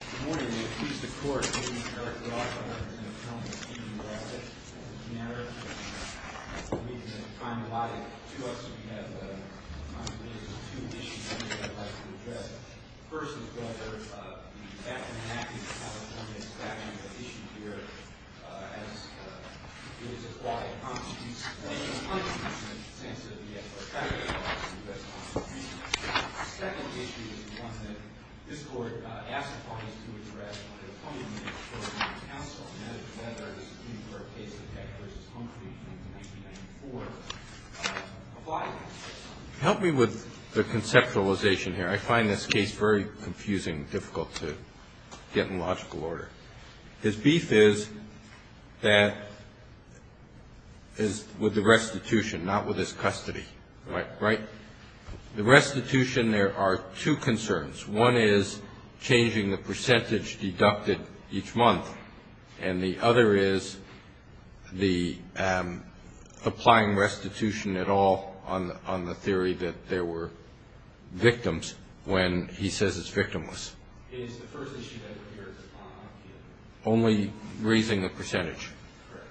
Good morning. May it please the Court, please. Eric Roth, I represent a gentleman in New York. It's an honor for me to have time allotted to us. We have two issues that we would like to address. The first is whether the Baffin-Hackett California statute is issued here as it is required. It constitutes an unconstitutional sentence that we have to apply to the U.S. Constitution. The second issue is one that this Court asked the parties to address under the Fundamentals for the New York Council, and that is whether the Supreme Court case of Hackett v. Humphrey in 1994 applies. Help me with the conceptualization here. I find this case very confusing, difficult to get in logical order. His beef is that it's with the restitution, not with his custody, right? The restitution, there are two concerns. One is changing the percentage deducted each month, and the other is the applying restitution at all on the theory that there were victims when he says it's victimless. It is the first issue that appears on the appeal. Only raising the percentage. Correct.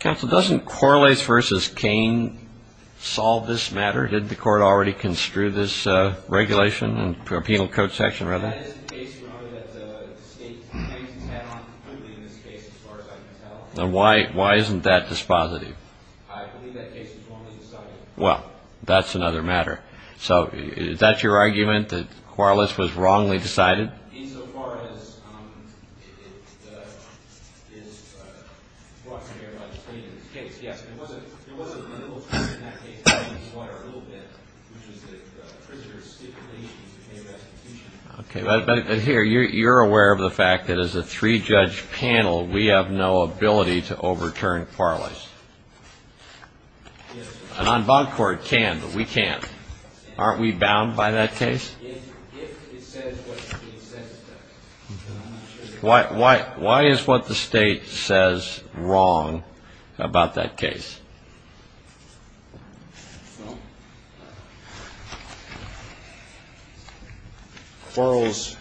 Counsel, doesn't Quarles v. Cain solve this matter? Didn't the Court already construe this regulation in the Penal Code section, rather? That is the case, Your Honor, that the state has had on completely in this case, as far as I can tell. Then why isn't that dispositive? I believe that case was wrongly decided. Well, that's another matter. So is that your argument, that Quarles was wrongly decided? Insofar as it is brought to bear by the plaintiff's case, yes. It was a little different in that case. I think it's wider a little bit, which is that the prisoner's stipulations became restitution. Okay. But here, you're aware of the fact that as a three-judge panel, we have no ability to overturn Quarles. Yes, sir. And on bond court, can, but we can't. Aren't we bound by that case? If it says what it says it does. Why is what the state says wrong about that case? Quarles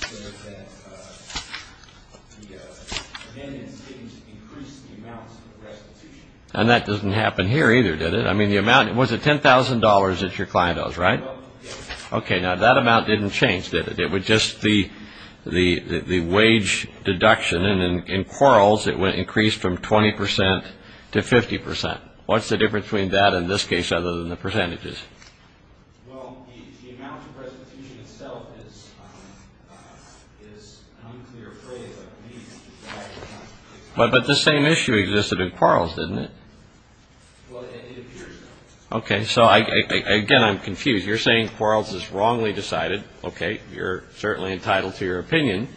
said that the amendments didn't increase the amount of restitution. And that doesn't happen here either, did it? I mean, the amount, was it $10,000 that your client owes, right? Yes. Okay. Now, that amount didn't change, did it? It was just the wage deduction. And in Quarles, it increased from 20% to 50%. What's the difference between that and this case, other than the percentages? Well, the amount of restitution itself is an unclear phrase. But the same issue existed in Quarles, didn't it? Well, it appears so. Okay. So, again, I'm confused. You're saying Quarles is wrongly decided. Okay. You're certainly entitled to your opinion.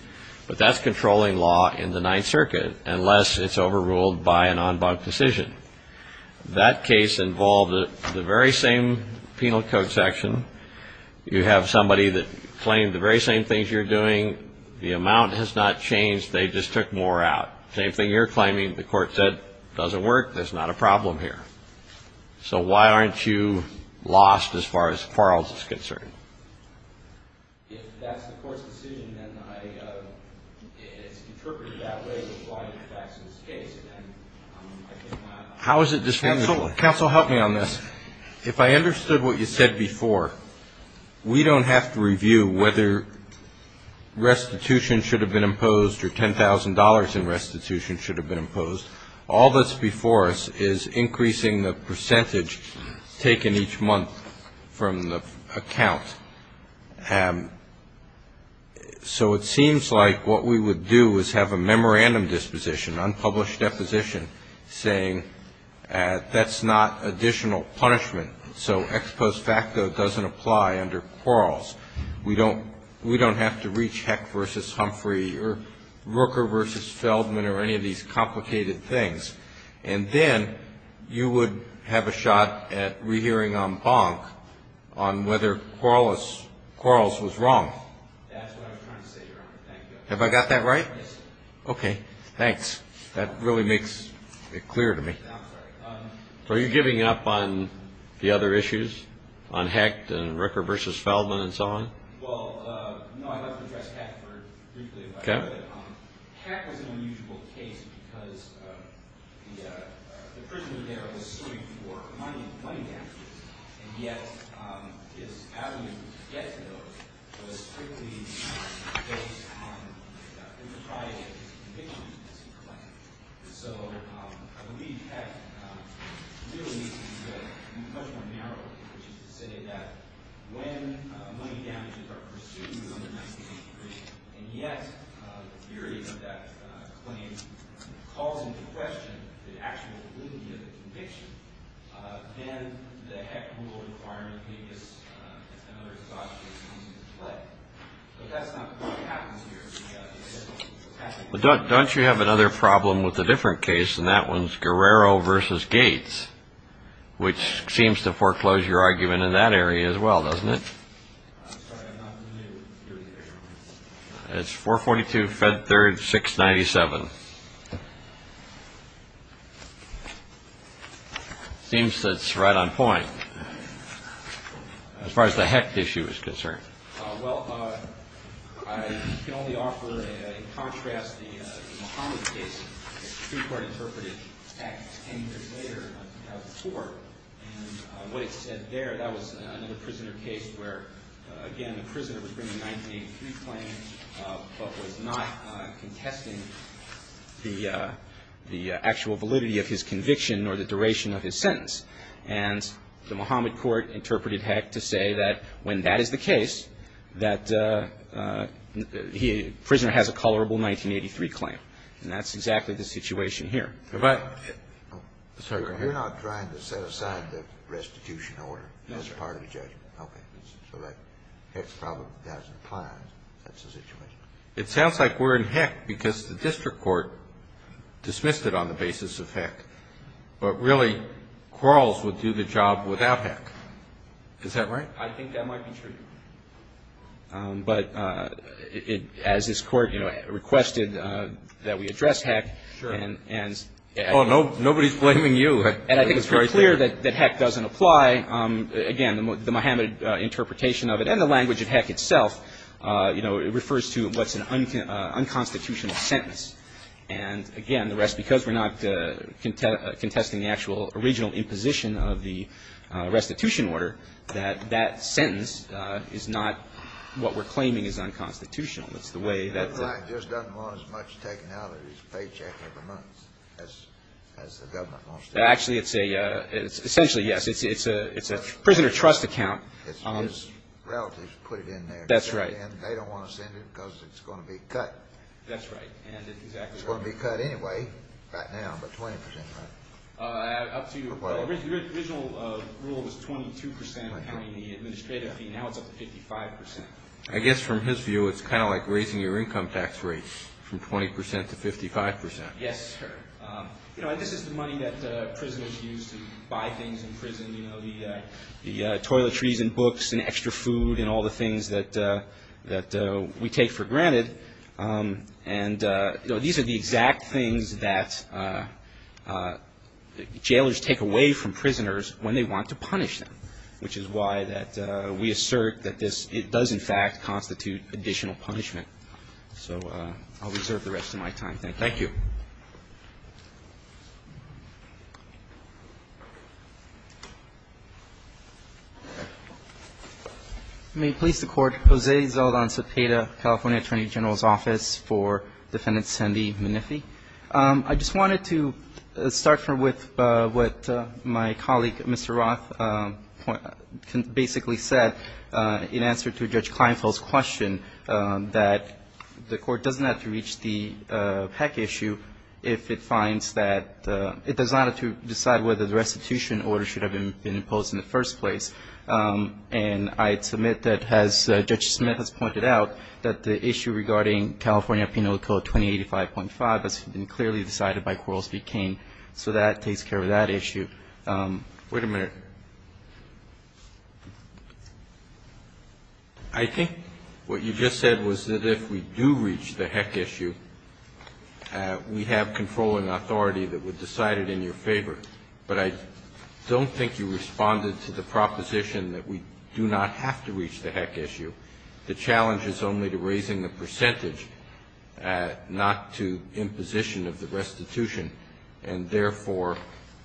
But that's controlling law in the Ninth Circuit, unless it's overruled by an en banc decision. That case involved the very same penal code section. You have somebody that claimed the very same things you're doing. The amount has not changed. They just took more out. Same thing you're claiming. The court said it doesn't work. There's not a problem here. So why aren't you lost as far as Quarles is concerned? If that's the court's decision, then it's interpreted that way, which is why it affects this case. Counsel, help me on this. If I understood what you said before, we don't have to review whether restitution should have been imposed or $10,000 in restitution should have been imposed. All that's before us is increasing the percentage taken each month from the account. So it seems like what we would do is have a memorandum disposition, unpublished deposition, saying that's not additional punishment, so ex post facto doesn't apply under Quarles. We don't have to reach Hecht v. Humphrey or Rooker v. Feldman or any of these complicated things. And then you would have a shot at rehearing en banc on whether Quarles was wrong. That's what I was trying to say, Your Honor. Have I got that right? Yes, sir. Okay. Thanks. That really makes it clear to me. So are you giving up on the other issues, on Hecht and Rooker v. Feldman and so on? Well, no, I'd like to address Hecht briefly. Hecht was an unusual case because the prisoner there was suing for money damages, and yet his alimony to get to those was strictly based on his private conviction, as he claimed. So I believe Hecht really needs to be dealt with in a much more narrow way, which is to say that when money damages are pursued under 1983, and yet the theory of that claim calls into question the actual validity of the conviction, then the Hecht rule requirement may just, in other thoughts, come into play. But that's not what happens here. But don't you have another problem with a different case, and that one's Guerrero v. Gates, which seems to foreclose your argument in that area as well, doesn't it? I'm sorry, I'm not new to the area. It's 442 Fed Third 697. It seems that it's right on point as far as the Hecht issue is concerned. Well, I can only offer, in contrast, the Muhammad case. The Supreme Court interpreted Hecht 10 years later, in 2004. And what it said there, that was another prisoner case where, again, the prisoner was bringing a 1983 claim but was not contesting the actual validity of his conviction or the duration of his sentence. And the Muhammad court interpreted Hecht to say that when that is the case, that the prisoner has a colorable 1983 claim. And that's exactly the situation here. You're not trying to set aside the restitution order as part of the judgment. Okay. So that Hecht problem doesn't apply. That's the situation. It sounds like we're in Hecht because the district court dismissed it on the basis of Hecht. But really, Quarles would do the job without Hecht. Is that right? I think that might be true. But as this Court, you know, requested that we address Hecht. Sure. Oh, nobody's blaming you. And I think it's very clear that Hecht doesn't apply. Again, the Muhammad interpretation of it and the language of Hecht itself, you know, it refers to what's an unconstitutional sentence. And, again, because we're not contesting the actual original imposition of the restitution order, that that sentence is not what we're claiming is unconstitutional. It's the way that the ---- Hecht just doesn't want as much taken out of his paycheck every month as the government wants to do. Actually, it's a ---- essentially, yes, it's a prisoner trust account. His relatives put it in there. That's right. And they don't want to send it because it's going to be cut. That's right. And exactly right. It's going to be cut anyway, right now, but 20%, right? Up to ---- The original rule was 22% accounting the administrative fee. Now it's up to 55%. I guess from his view, it's kind of like raising your income tax rates from 20% to 55%. Yes, sir. You know, and this is the money that prisoners use to buy things in prison, you know, the toiletries and books and extra food and all the things that we take for granted. And, you know, these are the exact things that jailers take away from prisoners when they want to punish them, which is why that we assert that this does, in fact, constitute additional punishment. So I'll reserve the rest of my time. Thank you. May it please the Court. Jose Zeldon Cepeda, California Attorney General's Office, for Defendant Sandy McNiffy. I just wanted to start with what my colleague, Mr. Roth, basically said in answer to Judge Kleinfeld's question, that the Court doesn't have to reach the PEC issue if it finds that it does not have to decide whether the restitution order should have been imposed in the first place, and I'd submit that, as Judge Smith has pointed out, that the issue regarding California Penal Code 2085.5 has been clearly decided by Quarles v. Kane, so that takes care of that issue. Wait a minute. I think what you just said was that if we do reach the HEC issue, we have control and authority that would decide it in your favor. But I don't think you responded to the proposition that we do not have to reach the HEC issue. The challenge is only to raising the percentage, not to imposition of the restitution, and therefore,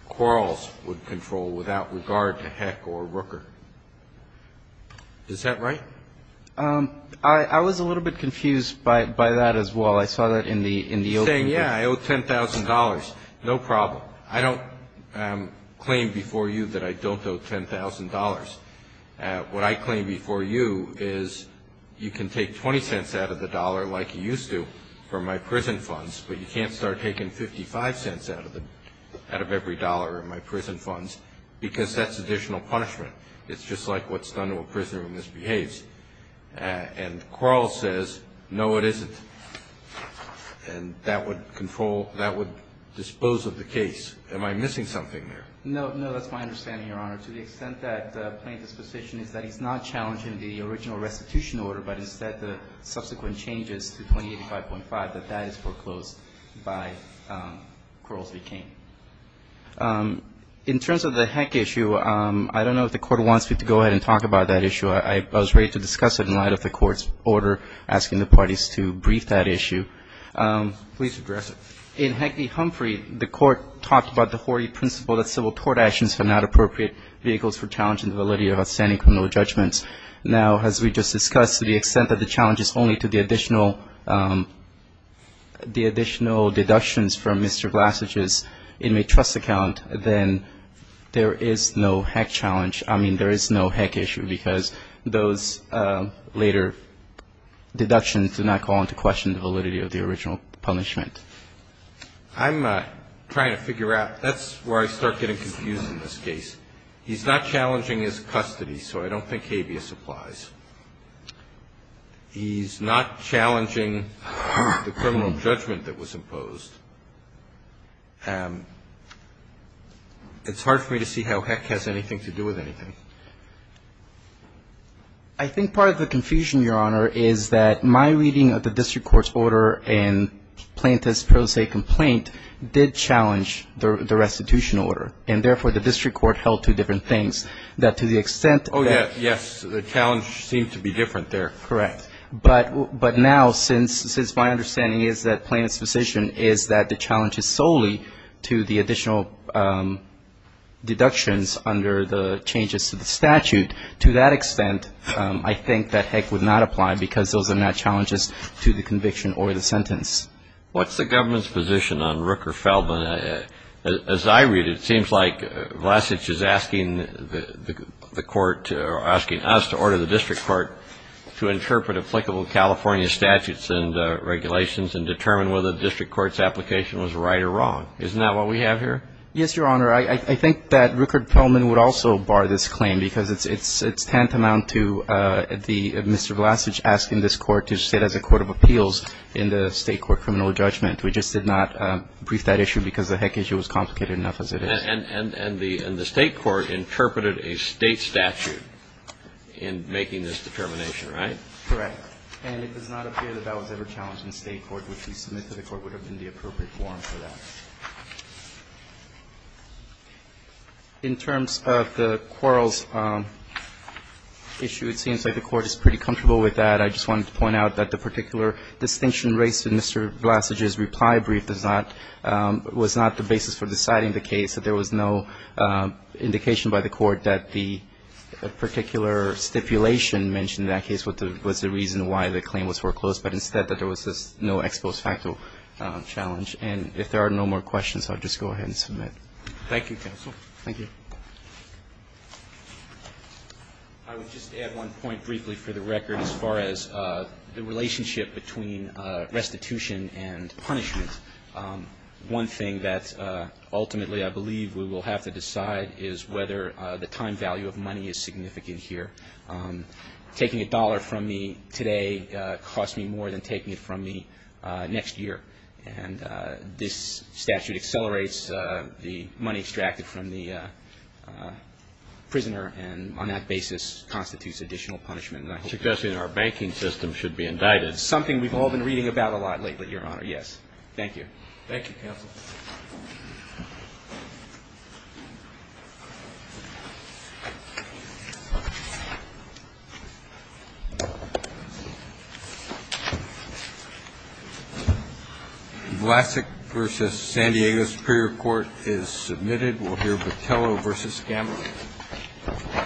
Quarles would control without regard to HEC or Rooker. Is that right? I was a little bit confused by that as well. I saw that in the opening. Saying, yeah, I owe $10,000, no problem. I don't claim before you that I don't owe $10,000. What I claim before you is you can take $0.20 out of the dollar like you used to for my prison funds, but you can't start taking $0.55 out of every dollar in my prison funds because that's additional punishment. It's just like what's done to a prisoner when this behaves. And Quarles says, no, it isn't. And that would control, that would dispose of the case. Am I missing something there? No, no, that's my understanding, Your Honor. To the extent that plaintiff's position is that he's not challenging the original restitution order, but instead the subsequent changes to 2085.5, that that is foreclosed by Quarles v. Cain. In terms of the HEC issue, I don't know if the Court wants me to go ahead and talk about that issue. I was ready to discuss it in light of the Court's order asking the parties to brief that issue. Please address it. In HEC v. Humphrey, the Court talked about the hoary principle that civil court actions are not appropriate vehicles for challenging the validity of outstanding criminal judgments. Now, as we just discussed, to the extent that the challenge is only to the additional, the additional deductions from Mr. Glassage's inmate trust account, then there is no HEC challenge. I mean, there is no HEC issue because those later deductions do not call into question the validity of the original punishment. I'm trying to figure out. That's where I start getting confused in this case. He's not challenging his custody, so I don't think habeas applies. He's not challenging the criminal judgment that was imposed. It's hard for me to see how HEC has anything to do with anything. I think part of the confusion, Your Honor, is that my reading of the district court's order and Plaintiff's pro se complaint did challenge the restitution order, and therefore the district court held two different things. That to the extent that the challenge seemed to be different there. Correct. But now, since my understanding is that Plaintiff's decision is that the challenge is solely to the additional deductions under the changes to the statute, to that extent, I think that HEC would not apply because those are not challenges to the conviction or the sentence. What's the government's position on Rooker-Feldman? As I read it, it seems like Glassage is asking the court, or asking us to order the district court to interpret applicable California statutes and regulations and determine whether the district court's application was right or wrong. Isn't that what we have here? Yes, Your Honor. I think that Rooker-Feldman would also bar this claim because it's tantamount to Mr. Glassage asking this court to sit as a court of appeals in the state court criminal judgment. We just did not brief that issue because the HEC issue was complicated enough as it is. And the state court interpreted a state statute in making this determination, right? Correct. And it does not appear that that was ever challenged in the state court, which we submit to the court would have been the appropriate forum for that. In terms of the quarrels issue, it seems like the court is pretty comfortable with that. I just wanted to point out that the particular distinction raised in Mr. Glassage's reply brief was not the basis for deciding the case, that there was no indication by the court that the particular stipulation mentioned in that case was the reason why the claim was foreclosed, but instead that there was no ex post facto challenge. And if there are no more questions, I'll just go ahead and submit. Thank you, counsel. Thank you. I would just add one point briefly for the record as far as the relationship between restitution and punishment. One thing that ultimately I believe we will have to decide is whether the time value of money is significant here. Taking a dollar from me today costs me more than taking it from me next year. And this statute accelerates the money extracted from the prisoner and on that basis constitutes additional punishment. And I'm suggesting our banking system should be indicted. Something we've all been reading about a lot lately, Your Honor, yes. Thank you. Thank you, counsel. Glassage v. San Diego Superior Court is submitted. We'll hear Botello v. Gamble.